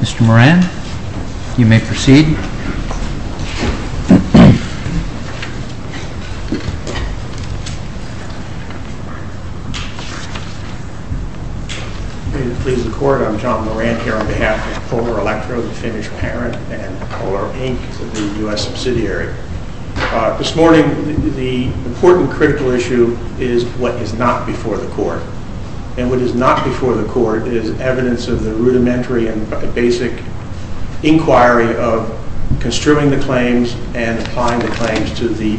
Mr. Moran, you may proceed. Good morning. I'm John Moran here on behalf of Polar Electro, the famous parent of Polar Inc., the U.S. subsidiary. This morning, the important critical issue is what is not before the court. And what is not before the court is evidence of the rudimentary and basic inquiry of construing the claims and applying the claims to the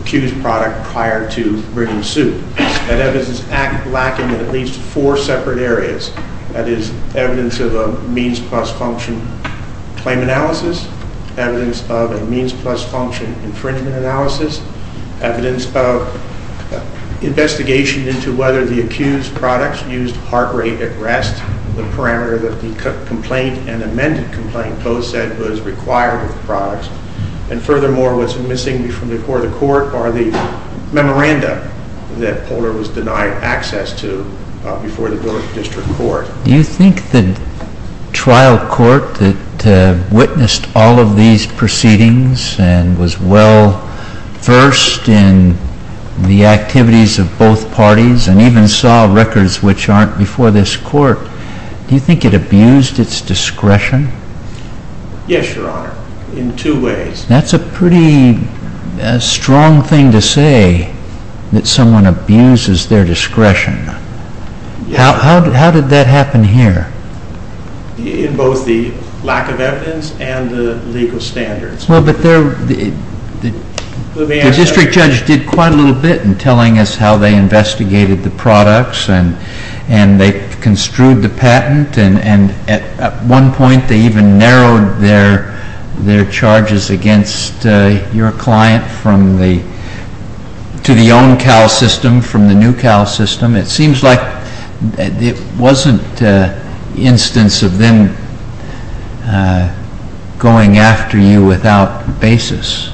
accused product prior to bringing suit. That evidence is lacking in at least four separate areas. That is evidence of a means plus function claim analysis, evidence of a means plus function infringement analysis, evidence of investigation into whether the accused product used heart rate at rest, the parameter that the complaint and amended complaint both said was required of the product. And furthermore, what's missing before the court are the memoranda that Polar was denied access to before the district court. Do you think the trial court that witnessed all of these proceedings and was well versed in the activities of both parties and even saw records which aren't before this court, do you think it abused its discretion? Yes, Your Honor, in two ways. That's a pretty strong thing to say, that someone abuses their discretion. How did that happen here? In both the lack of evidence and the legal standards. Well, but the district judge did quite a little bit in telling us how they investigated the products and they construed the patent, and at one point they even narrowed their charges against your client to the own Cal system, from the new Cal system. It seems like it wasn't an instance of them going after you without basis.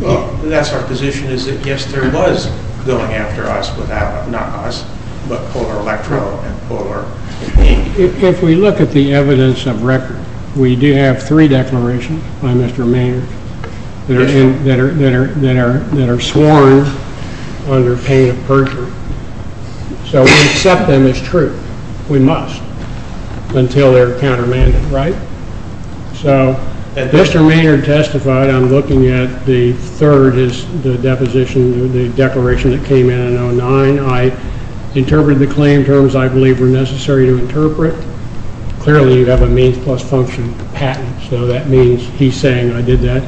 Well, that's our position, is that yes, there was going after us without, not us, but Polar Electro and Polar Ink. If we look at the evidence of record, we do have three declarations by Mr. Maynard that are sworn under pain of perjury. So we accept them as true, we must, until they're countermanded, right? So if Mr. Maynard testified, I'm looking at the third is the deposition, the declaration that came in in 2009. I interpreted the claim terms I believe were necessary to interpret. Clearly you have a means plus function patent, so that means he's saying I did that.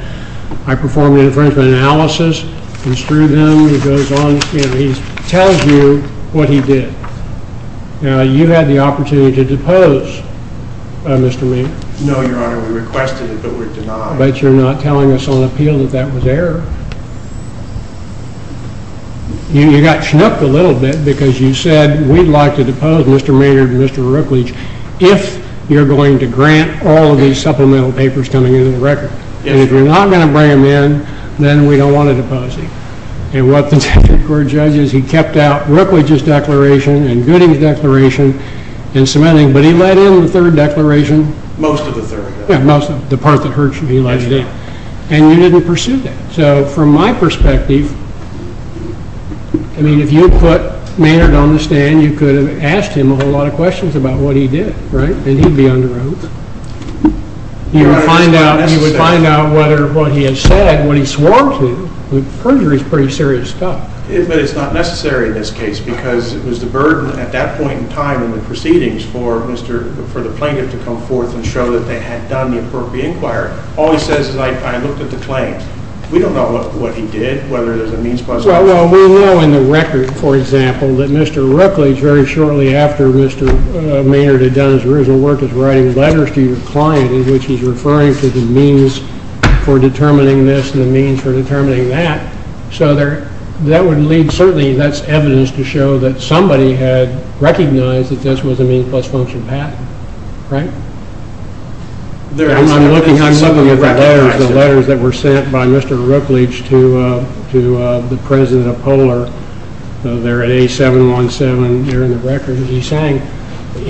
I performed an infringement analysis, construed them, he goes on, you know, he tells you what he did. Now, you had the opportunity to depose Mr. Maynard. No, Your Honor, we requested it, but we're denied. But you're not telling us on appeal that that was error. You got schnooked a little bit because you said we'd like to depose Mr. Maynard and Mr. Rooklege if you're going to grant all of these supplemental papers coming into the record. And if you're not going to bring them in, then we don't want to depose him. And what the Supreme Court judges, he kept out Rooklege's declaration and Gooding's declaration and cementing, but he let in the third declaration. Most of the third. Yeah, most of the part that he let in. And you didn't pursue that. So from my perspective, I mean, if you put Maynard on the stand, you could have asked him a whole lot of questions about what he did, right? And he'd be under oath. You would find out whether what he had said, what he swore to, perjury is pretty serious stuff. But it's not necessary in this case because it was the burden at that point in time in the proceedings for the plaintiff to come forth and show that they had done the appropriate inquiry. All he says is, I looked at the claims. We don't know what he did, whether there's a means plus function. Well, we know in the record, for example, that Mr. Rooklege, very shortly after Mr. Maynard had done his original work, was writing letters to your client in which he's referring to the means for determining this and the means for determining that. So that would lead, certainly, that's evidence to show that somebody had recognized that this was a means plus function patent, right? I'm looking at the letters that were sent by Mr. Rooklege to the president of Polar. They're at A717 here in the record. He's saying,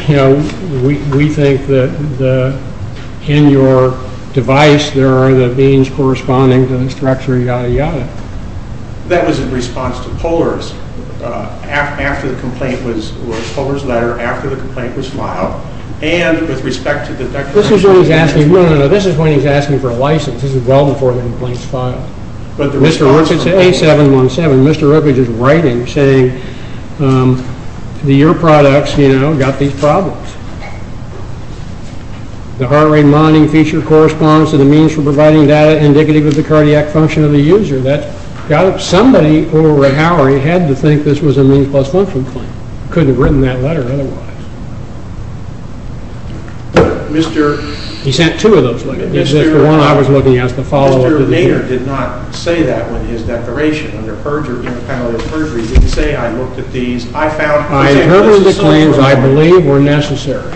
you know, we think that in your device, there are the means corresponding to the structure, yada, yada. That was in response to Polar's letter after the complaint was filed. This is when he's asking for a license. This is well before the complaint was filed. Mr. Rooklege is at A717. Mr. Rooklege is writing, saying, your products, you know, got these problems. The heart rate monitoring feature corresponds to the means for providing data indicative of the cardiac function of the user. Somebody over an hour had to think this was a means plus function claim. Couldn't have written that letter otherwise. He sent two of those looking. He sent the one I was looking at as the follow-up to the hearing. Mr. Maynard did not say that in his declaration. Under panelist perjury, he didn't say, I looked at these. I found, for example, the claims I believe were necessary.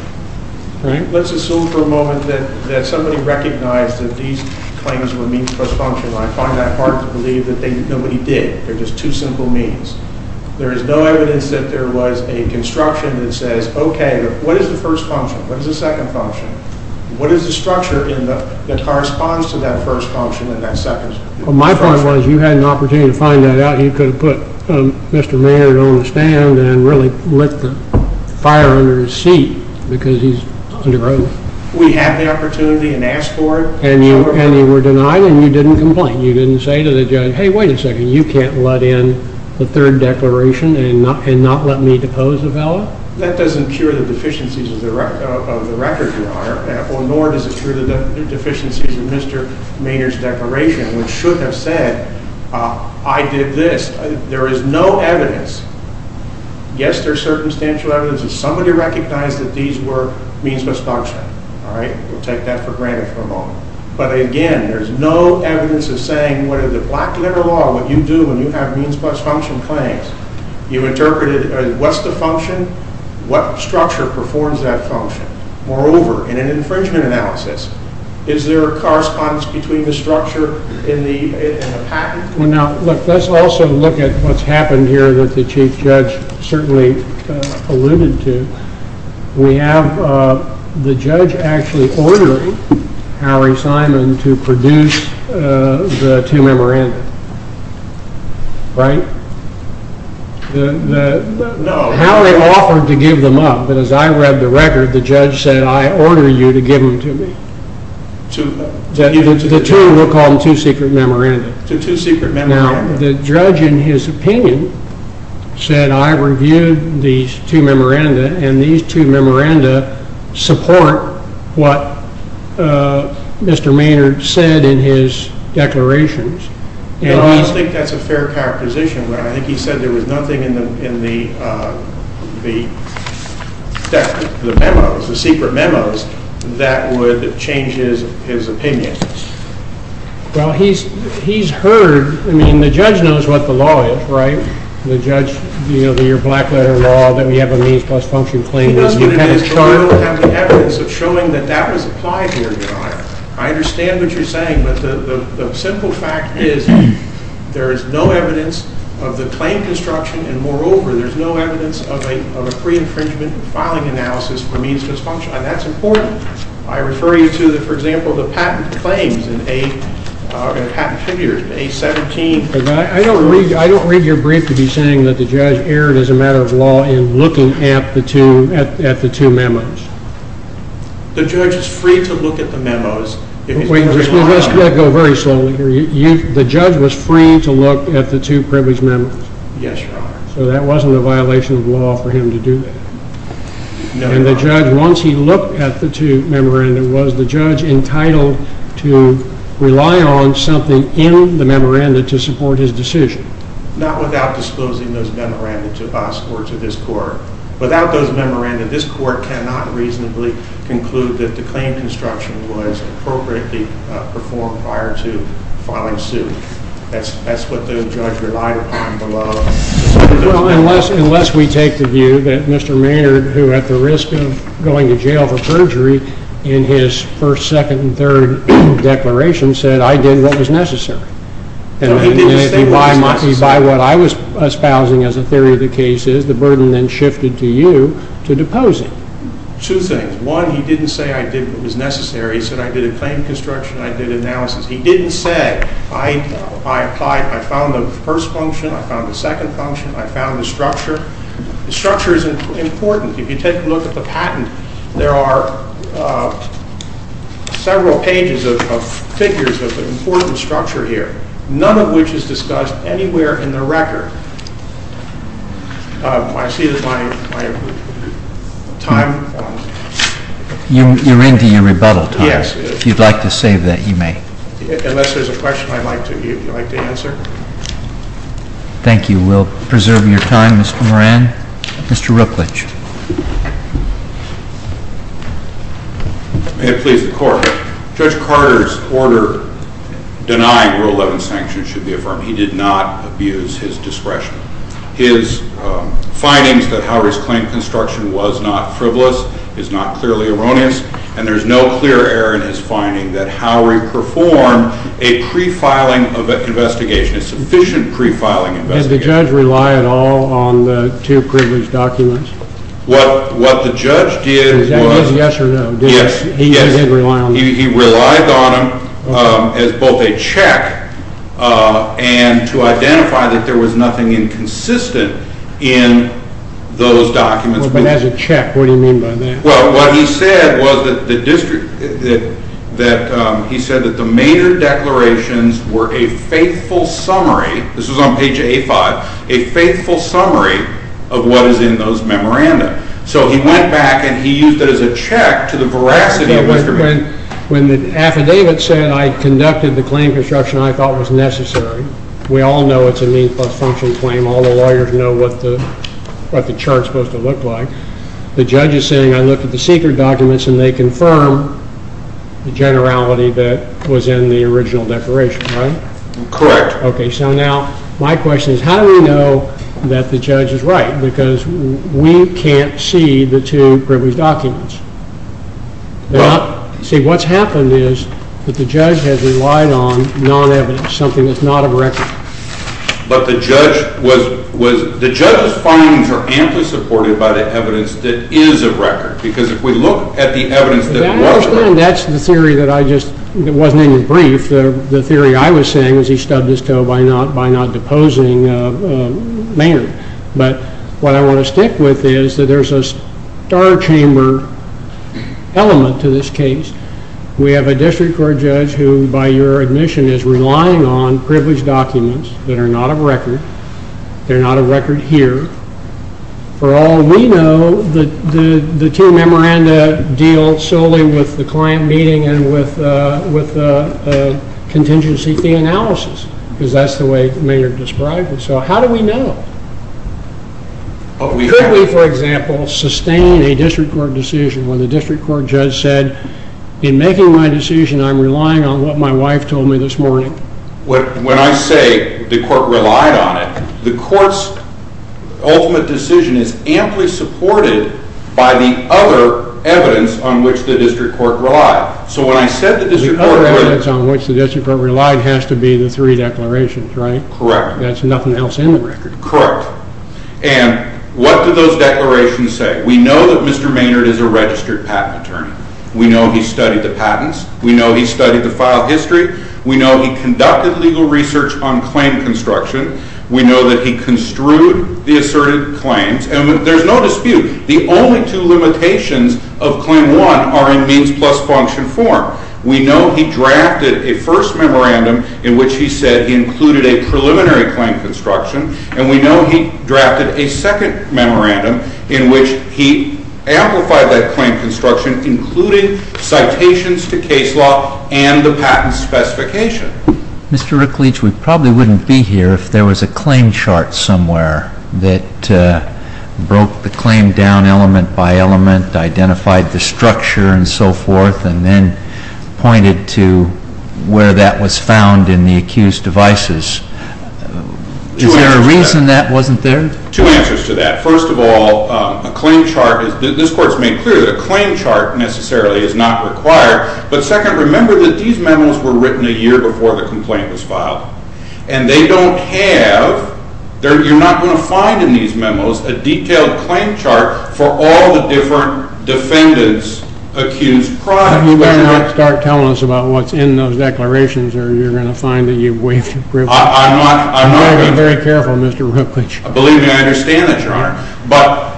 Let's assume for a moment that somebody recognized that these claims were means plus function. I find that hard to believe that nobody did. They're just two simple means. There is no evidence that there was a construction that says, okay, what is the first function? What is the second function? What is the structure that corresponds to that first function and that second? Well, my point was you had an opportunity to find that out. You could have put Mr. Maynard on the stand and really lit the fire under his seat because he's under oath. We had the opportunity and asked for it. And you were denied and you didn't complain. You didn't say to the judge, hey, wait a second, you can't let in the third declaration and not let me depose a fellow? That doesn't cure the deficiencies of the record, Your Honor, nor does it cure the deficiencies of Mr. Maynard's declaration, which should have said, I did this. There is no evidence. Yes, there is circumstantial evidence that somebody recognized that these were means plus function. All right? We'll take that for granted for a moment. But, again, there's no evidence of saying whether the black liberal law, what you do when you have means plus function claims, you interpreted what's the function? What structure performs that function? Moreover, in an infringement analysis, is there a correspondence between the structure and the patent? Well, now, look, let's also look at what's happened here that the Chief Judge certainly alluded to. We have the judge actually ordering Harry Simon to produce the two memoranda. Right? No. Harry offered to give them up, but as I read the record, the judge said, I order you to give them to me. The two, we'll call them two secret memoranda. Two secret memoranda. Now, the judge, in his opinion, said, I reviewed these two memoranda, and these two memoranda support what Mr. Maynard said in his declarations. I think that's a fair characterization. I think he said there was nothing in the secret memos that would change his opinion. Well, he's heard. I mean, the judge knows what the law is, right? The judge, you know, your black letter law that we have a means plus function claim. We don't have the evidence of showing that that was applied here. I understand what you're saying, but the simple fact is there is no evidence of the claim construction, and moreover, there's no evidence of a pre-infringement filing analysis for means plus function. And that's important. I refer you to, for example, the patent claims in a patent figure, A-17. I don't read your brief to be saying that the judge erred as a matter of law in looking at the two memos. The judge is free to look at the memos. Wait a minute. Let's go very slowly here. The judge was free to look at the two privileged memos. Yes, Your Honor. So that wasn't a violation of law for him to do that. No, Your Honor. And the judge, once he looked at the two memoranda, was the judge entitled to rely on something in the memoranda to support his decision? Not without disclosing those memoranda to us or to this court. Without those memoranda, this court cannot reasonably conclude that the claim construction was appropriately performed prior to filing suit. That's what the judge relied upon below. Well, unless we take the view that Mr. Maynard, who at the risk of going to jail for perjury in his first, second, and third declarations said, I did what was necessary. No, he didn't say what was necessary. By what I was espousing as a theory of the case is the burden then shifted to you to depose him. Two things. One, he didn't say I did what was necessary. He said I did a claim construction. I did analysis. He didn't say I applied, I found the first function, I found the second function, I found the structure. The structure is important. If you take a look at the patent, there are several pages of figures of the important structure here, none of which is discussed anywhere in the record. I see that my time. You're into your rebuttal time. Yes. If you'd like to save that, you may. Unless there's a question I'd like to answer. Thank you. We'll preserve your time, Mr. Moran. Mr. Ruclich. May it please the Court. Judge Carter's order denying Rule 11 sanctions should be affirmed. He did not abuse his discretion. His findings that Howard's claim construction was not frivolous is not clearly erroneous, and there's no clear error in his finding that Howard performed a pre-filing investigation, a sufficient pre-filing investigation. Did the judge rely at all on the two privileged documents? What the judge did was… Did he say yes or no? Yes. He did rely on them. He relied on them as both a check and to identify that there was nothing inconsistent in those documents. But as a check, what do you mean by that? Well, what he said was that the major declarations were a faithful summary. This was on page A5. A faithful summary of what is in those memoranda. So he went back and he used it as a check to the veracity of Mr. Moran. When the affidavit said I conducted the claim construction I thought was necessary, we all know it's a means plus function claim. All the lawyers know what the chart's supposed to look like. The judge is saying I looked at the secret documents and they confirm the generality that was in the original declaration, right? Correct. Okay, so now my question is how do we know that the judge is right? Because we can't see the two privileged documents. See, what's happened is that the judge has relied on non-evidence, something that's not of record. But the judge's findings are amply supported by the evidence that is of record. Because if we look at the evidence that wasn't of record. I understand that's the theory that I just, that wasn't even brief. The theory I was saying is he stubbed his toe by not deposing Maynard. But what I want to stick with is that there's a star chamber element to this case. We have a district court judge who, by your admission, is relying on privileged documents that are not of record. They're not of record here. For all we know, the two memoranda deal solely with the client meeting and with contingency fee analysis. Because that's the way Maynard described it. So how do we know? Could we, for example, sustain a district court decision where the district court judge said, in making my decision, I'm relying on what my wife told me this morning? When I say the court relied on it, the court's ultimate decision is amply supported by the other evidence on which the district court relied. So when I said the district court relied. The other evidence on which the district court relied has to be the three declarations, right? Correct. That's nothing else in the record. Correct. And what do those declarations say? We know that Mr. Maynard is a registered patent attorney. We know he studied the patents. We know he studied the file history. We know he conducted legal research on claim construction. We know that he construed the asserted claims. And there's no dispute, the only two limitations of Claim 1 are in means plus function form. We know he drafted a first memorandum in which he said he included a preliminary claim construction. And we know he drafted a second memorandum in which he amplified that claim construction, including citations to case law and the patent specification. Mr. Rickleach, we probably wouldn't be here if there was a claim chart somewhere that broke the claim down element by element, identified the structure and so forth, and then pointed to where that was found in the accused devices. Is there a reason that wasn't there? Two answers to that. First of all, a claim chart, this Court has made clear that a claim chart necessarily is not required. But second, remember that these memos were written a year before the complaint was filed. And they don't have, you're not going to find in these memos, a detailed claim chart for all the different defendants accused prior. You better not start telling us about what's in those declarations or you're going to find that you've waived your grip. I'm not going to. You better be very careful, Mr. Rickleach. Believe me, I understand that, Your Honor. But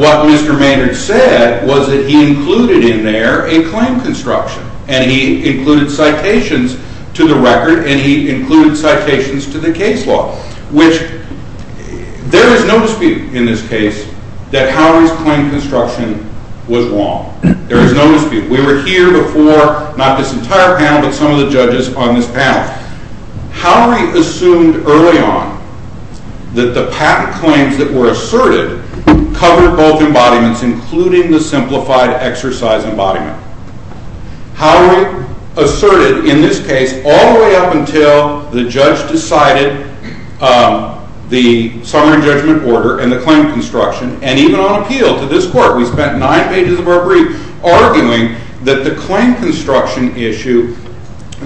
what Mr. Maynard said was that he included in there a claim construction. And he included citations to the record, and he included citations to the case law. Which, there is no dispute in this case that Howard's claim construction was wrong. There is no dispute. We were here before, not this entire panel, but some of the judges on this panel. Howard assumed early on that the patent claims that were asserted covered both embodiments, including the simplified exercise embodiment. Howard asserted in this case all the way up until the judge decided the summary judgment order and the claim construction. And even on appeal to this court, we spent nine pages of our brief arguing that the claim construction issue,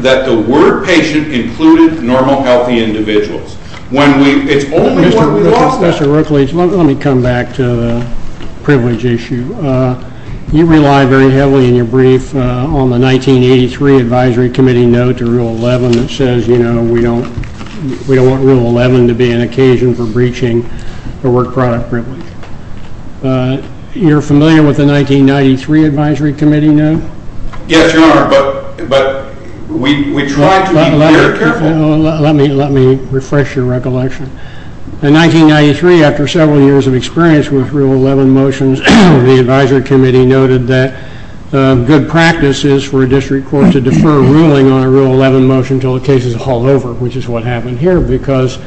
that the word patient included normal, healthy individuals. When we, it's only what we lost. Mr. Rickleach, let me come back to the privilege issue. You rely very heavily in your brief on the 1983 Advisory Committee note to Rule 11 that says, you know, we don't want Rule 11 to be an occasion for breaching the work product privilege. You're familiar with the 1993 Advisory Committee note? Yes, Your Honor, but we try to be very careful. Let me refresh your recollection. In 1993, after several years of experience with Rule 11 motions, the Advisory Committee noted that good practice is for a district court to defer ruling on a Rule 11 motion until the case is hauled over, which is what happened here, because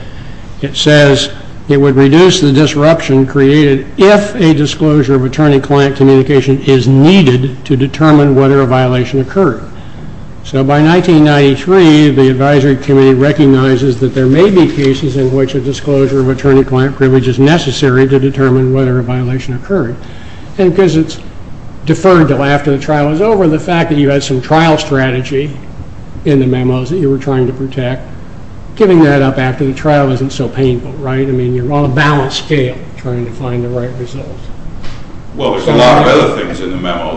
it says it would reduce the disruption created if a disclosure of attorney-client communication is needed to determine whether a violation occurred. So by 1993, the Advisory Committee recognizes that there may be cases in which a disclosure of attorney-client privilege is necessary to determine whether a violation occurred. And because it's deferred until after the trial is over, given the fact that you had some trial strategy in the memos that you were trying to protect, giving that up after the trial isn't so painful, right? I mean, you're on a balanced scale trying to find the right result. Well, there's a lot of other things in the memo.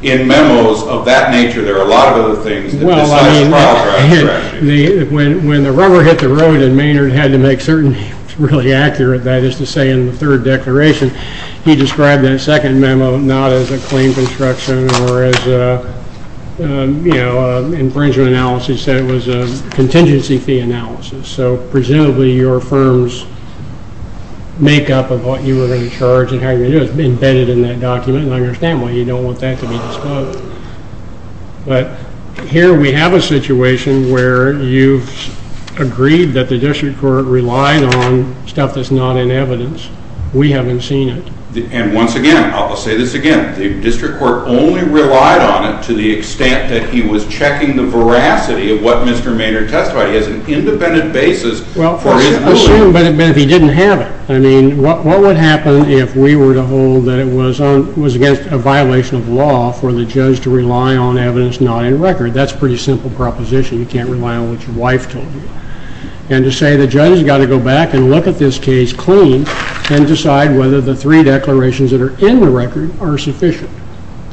In memos of that nature, there are a lot of other things that decide the trial strategy. When the rubber hit the road and Maynard had to make certain he was really accurate, that is to say, in the third declaration, he described that second memo not as a claim construction or as an infringement analysis. He said it was a contingency fee analysis. So presumably your firm's makeup of what you were going to charge and how you were going to do it is embedded in that document, and I understand why you don't want that to be disclosed. But here we have a situation where you've agreed that the district court relied on stuff that's not in evidence. We haven't seen it. And once again, I'll say this again, the district court only relied on it to the extent that he was checking the veracity of what Mr. Maynard testified. He has an independent basis for his ruling. Assume that he didn't have it. I mean, what would happen if we were to hold that it was against a violation of law for the judge to rely on evidence not in record? That's a pretty simple proposition. You can't rely on what your wife told you. And to say the judge has got to go back and look at this case clean and decide whether the three declarations that are in the record are sufficient.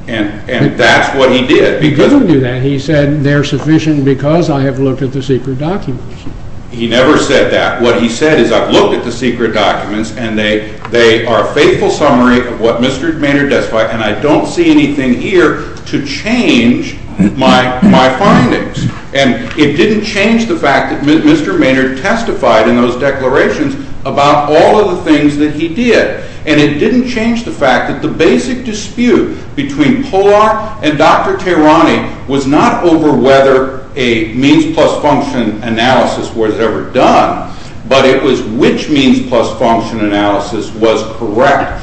And that's what he did. He didn't do that. He said they're sufficient because I have looked at the secret documents. He never said that. What he said is I've looked at the secret documents, and they are a faithful summary of what Mr. Maynard testified, and I don't see anything here to change my findings. And it didn't change the fact that Mr. Maynard testified in those declarations about all of the things that he did. And it didn't change the fact that the basic dispute between Polar and Dr. Tehrani was not over whether a means-plus-function analysis was ever done, but it was which means-plus-function analysis was correct.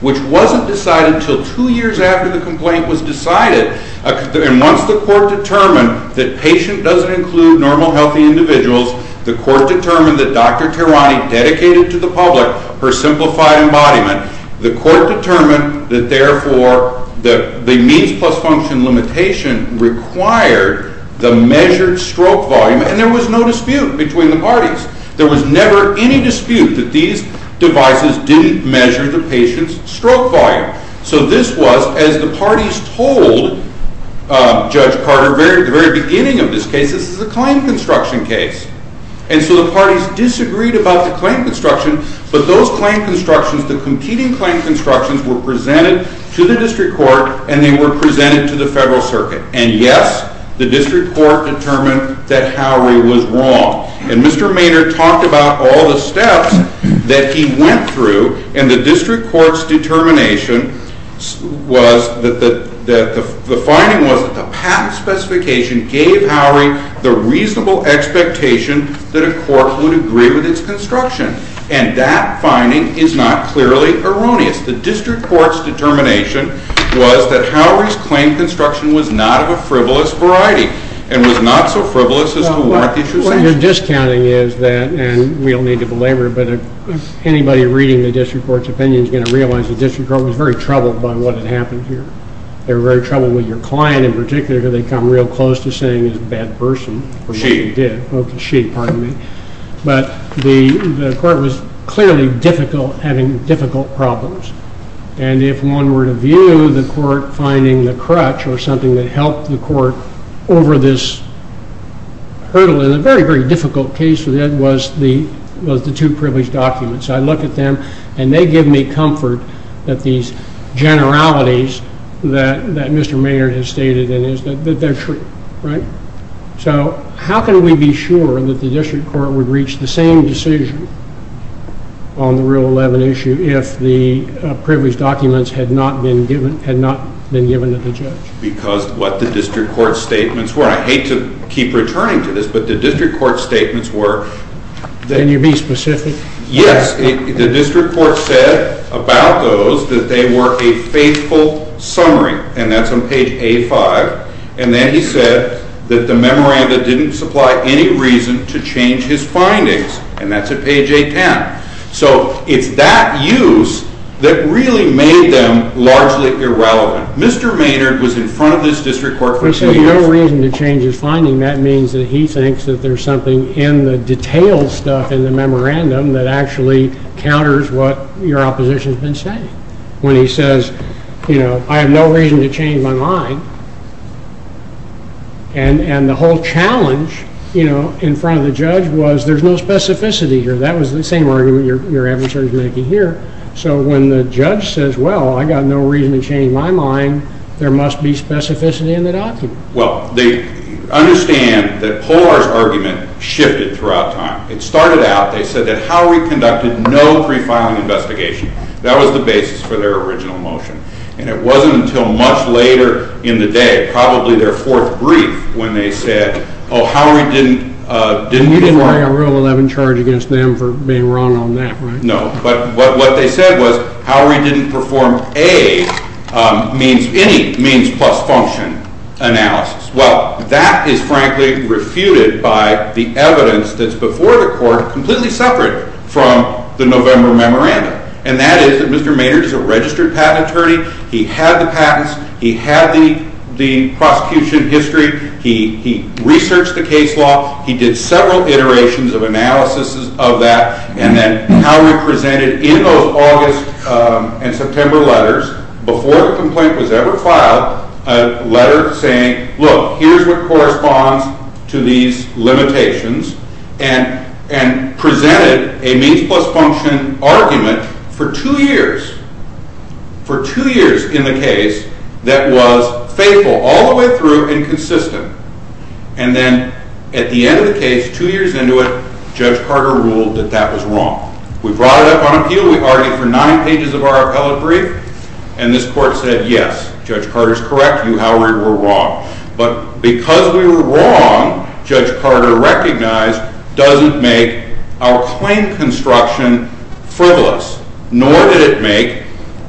which wasn't decided until two years after the complaint was decided. And once the court determined that patient doesn't include normal, healthy individuals, the court determined that Dr. Tehrani dedicated to the public her simplified embodiment. The court determined that, therefore, the means-plus-function limitation required the measured stroke volume, and there was no dispute between the parties. There was never any dispute that these devices didn't measure the patient's stroke volume. So this was, as the parties told Judge Carter at the very beginning of this case, this is a claim construction case. And so the parties disagreed about the claim construction, but those claim constructions, the competing claim constructions, were presented to the district court, and they were presented to the federal circuit. And, yes, the district court determined that Howard was wrong. And Mr. Maynard talked about all the steps that he went through, and the district court's determination was that the finding was that the patent specification gave Howard the reasonable expectation that a court would agree with its construction. And that finding is not clearly erroneous. The district court's determination was that Howard's claim construction was not of a frivolous variety and was not so frivolous as to warrant the issue of sanction. Well, your discounting is that, and we don't need to belabor it, but anybody reading the district court's opinion is going to realize the district court was very troubled by what had happened here. They were very troubled with your client in particular, because they'd come real close to saying he's a bad person. Or she. Okay, she, pardon me. But the court was clearly having difficult problems. And if one were to view the court finding the crutch or something that helped the court over this hurdle in a very, very difficult case, it was the two privileged documents. I look at them, and they give me comfort that these generalities that Mr. Maynard has stated, that they're true, right? So how can we be sure that the district court would reach the same decision on the Rule 11 issue if the privileged documents had not been given to the judge? Because what the district court's statements were. I hate to keep returning to this, but the district court's statements were... Can you be specific? Yes. The district court said about those that they were a faithful summary, and that's on page A-5. And then he said that the memoranda didn't supply any reason to change his findings, and that's at page A-10. So it's that use that really made them largely irrelevant. Mr. Maynard was in front of this district court... But saying no reason to change his findings, that means that he thinks that there's something in the detailed stuff in the memorandum that actually counters what your opposition has been saying. When he says, you know, I have no reason to change my mind. And the whole challenge, you know, in front of the judge was there's no specificity here. That was the same argument your adversary is making here. So when the judge says, well, I've got no reason to change my mind, there must be specificity in the document. Well, they understand that Polar's argument shifted throughout time. It started out, they said that Howry conducted no pre-filing investigation. That was the basis for their original motion. And it wasn't until much later in the day, probably their fourth brief, when they said, oh, Howry didn't pre-file... No, but what they said was Howry didn't perform any means plus function analysis. Well, that is frankly refuted by the evidence that's before the court, completely separate from the November memorandum. And that is that Mr. Maynard is a registered patent attorney. He had the patents. He had the prosecution history. He researched the case law. He did several iterations of analysis of that. And then Howry presented in those August and September letters, before the complaint was ever filed, a letter saying, look, here's what corresponds to these limitations, and presented a means plus function argument for two years. For two years in the case that was faithful all the way through and consistent. And then at the end of the case, two years into it, Judge Carter ruled that that was wrong. We brought it up on appeal. We argued for nine pages of our appellate brief. And this court said, yes, Judge Carter's correct. You, Howry, were wrong. But because we were wrong, Judge Carter recognized, doesn't make our claim construction frivolous. Nor did it make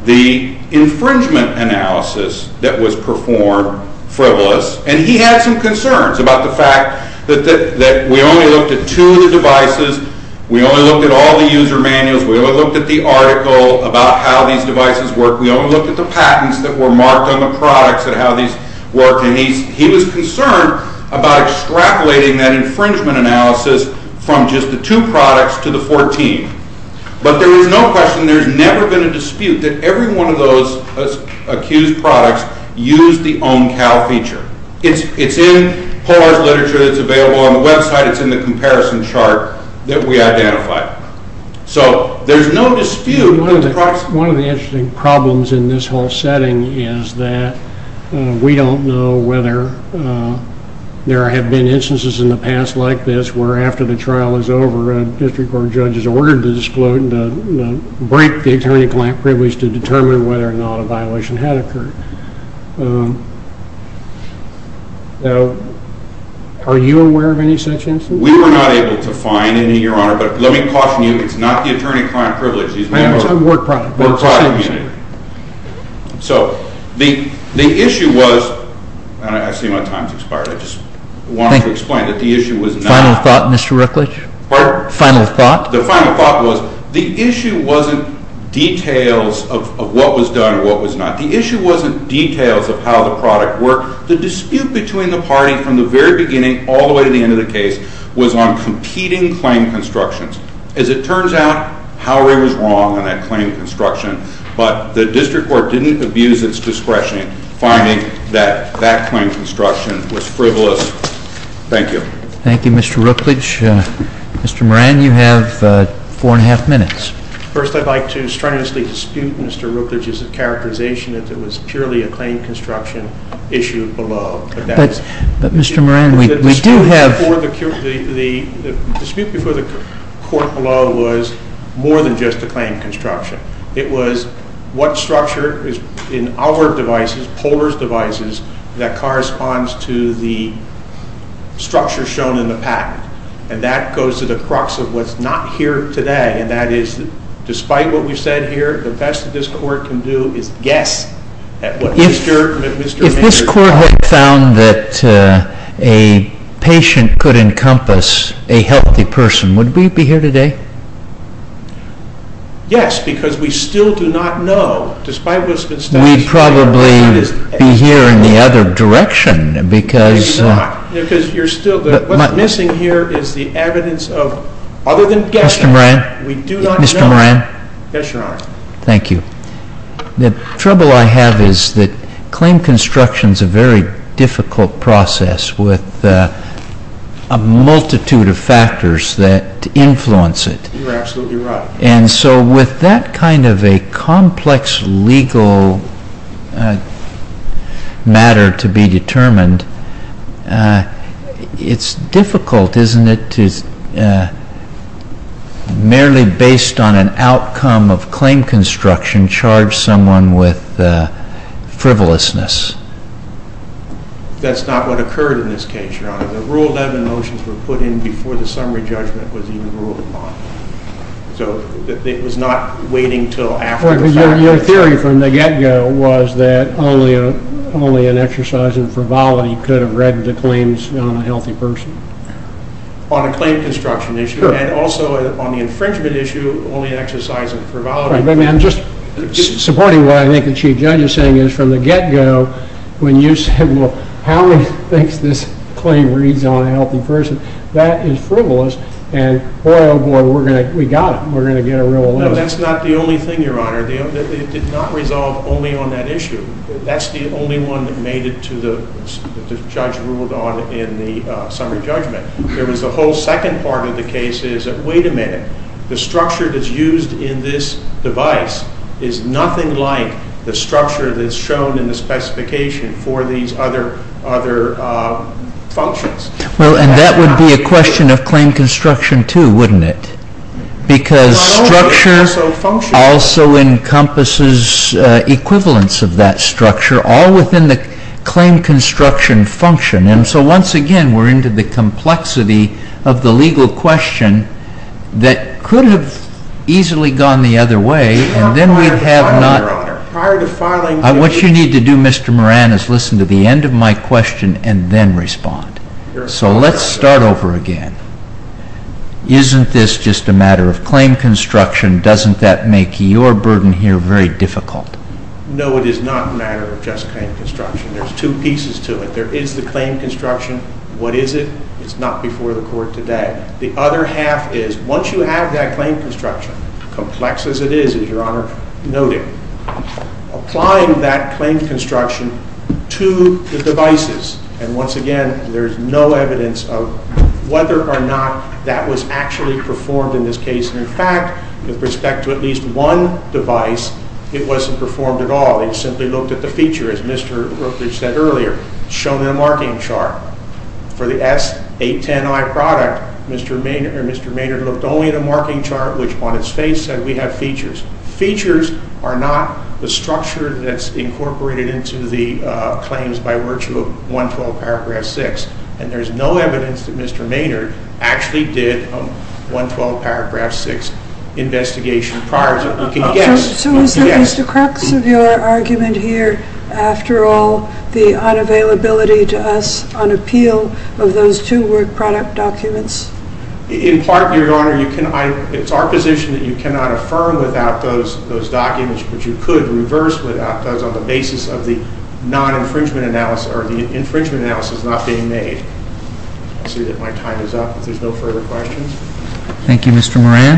the infringement analysis that was performed frivolous. And he had some concerns about the fact that we only looked at two of the devices. We only looked at all the user manuals. We only looked at the article about how these devices work. We only looked at the patents that were marked on the products and how these work. And he was concerned about extrapolating that infringement analysis from just the two products to the 14. But there was no question, there's never been a dispute, that every one of those accused products used the OMCAL feature. It's in Polar's literature. It's available on the website. It's in the comparison chart that we identified. So there's no dispute. One of the interesting problems in this whole setting is that we don't know whether there have been instances in the past like this where after the trial is over, a district court judge is ordered to break the attorney-client privilege to determine whether or not a violation had occurred. Now, are you aware of any such instances? We were not able to find any, Your Honor. But let me caution you, it's not the attorney-client privilege. It's the work product community. So the issue was, and I see my time has expired. I just wanted to explain that the issue was not Final thought, Mr. Rookledge? Pardon? Final thought? The final thought was the issue wasn't details of what was done and what was not. The issue wasn't details of how the product worked. The dispute between the party from the very beginning all the way to the end of the case was on competing claim constructions. As it turns out, Howard was wrong on that claim construction, but the district court didn't abuse its discretion finding that that claim construction was frivolous. Thank you. Thank you, Mr. Rookledge. Mr. Moran, you have four and a half minutes. First, I'd like to strenuously dispute Mr. Rookledge's characterization that it was purely a claim construction issue below. But, Mr. Moran, we do have The dispute before the court below was more than just a claim construction. It was what structure in our devices, Polar's devices, that corresponds to the structure shown in the pack. And that goes to the crux of what's not here today, and that is, despite what we've said here, the best that this court can do is guess at what Mr. Manger found. If this court had found that a patient could encompass a healthy person, would we be here today? Yes, because we still do not know, despite what's been stated. Then we'd probably be here in the other direction, because Because you're still, what's missing here is the evidence of, other than guessing, Mr. Moran? We do not know. Mr. Moran? Yes, Your Honor. Thank you. The trouble I have is that claim construction is a very difficult process with a multitude of factors that influence it. You're absolutely right. And so with that kind of a complex legal matter to be determined, it's difficult, isn't it, to merely based on an outcome of claim construction charge someone with frivolousness? That's not what occurred in this case, Your Honor. The Rule 11 motions were put in before the summary judgment was even ruled upon. So it was not waiting until after the fact. Your theory from the get-go was that only an exercise in frivolity could have read the claims on a healthy person. On a claim construction issue, and also on the infringement issue, only an exercise in frivolity. I'm just supporting what I think the Chief Judge is saying, is from the get-go, when you said, well, Howie thinks this claim reads on a healthy person, that is frivolous, and boy, oh, boy, we got it. We're going to get a Rule 11. That's not the only thing, Your Honor. It did not resolve only on that issue. That's the only one that made it to the judge ruled on in the summary judgment. There was a whole second part of the case is that, wait a minute, the structure that's used in this device is nothing like the structure that's shown in the specification for these other functions. Well, and that would be a question of claim construction, too, wouldn't it? Because structure also encompasses equivalence of that structure, all within the claim construction function. And so, once again, we're into the complexity of the legal question that could have easily gone the other way. What you need to do, Mr. Moran, is listen to the end of my question and then respond. So let's start over again. Isn't this just a matter of claim construction? Doesn't that make your burden here very difficult? No, it is not a matter of just claim construction. There's two pieces to it. There is the claim construction. What is it? It's not before the Court today. The other half is, once you have that claim construction, complex as it is, as Your Honor noted, applying that claim construction to the devices. And once again, there's no evidence of whether or not that was actually performed in this case. In fact, with respect to at least one device, it wasn't performed at all. It simply looked at the feature, as Mr. Rookridge said earlier, shown in a marking chart. For the S810I product, Mr. Maynard looked only at a marking chart, which on its face said we have features. Features are not the structure that's incorporated into the claims by virtue of 112 Paragraph 6. And there's no evidence that Mr. Maynard actually did a 112 Paragraph 6 investigation prior to it. We can guess. So is the crux of your argument here, after all, the unavailability to us on appeal of those two work product documents? In part, Your Honor, it's our position that you cannot affirm without those documents, but you could reverse without those on the basis of the non-infringement analysis, or the infringement analysis not being made. I see that my time is up. If there's no further questions. Thank you, Mr. Moran.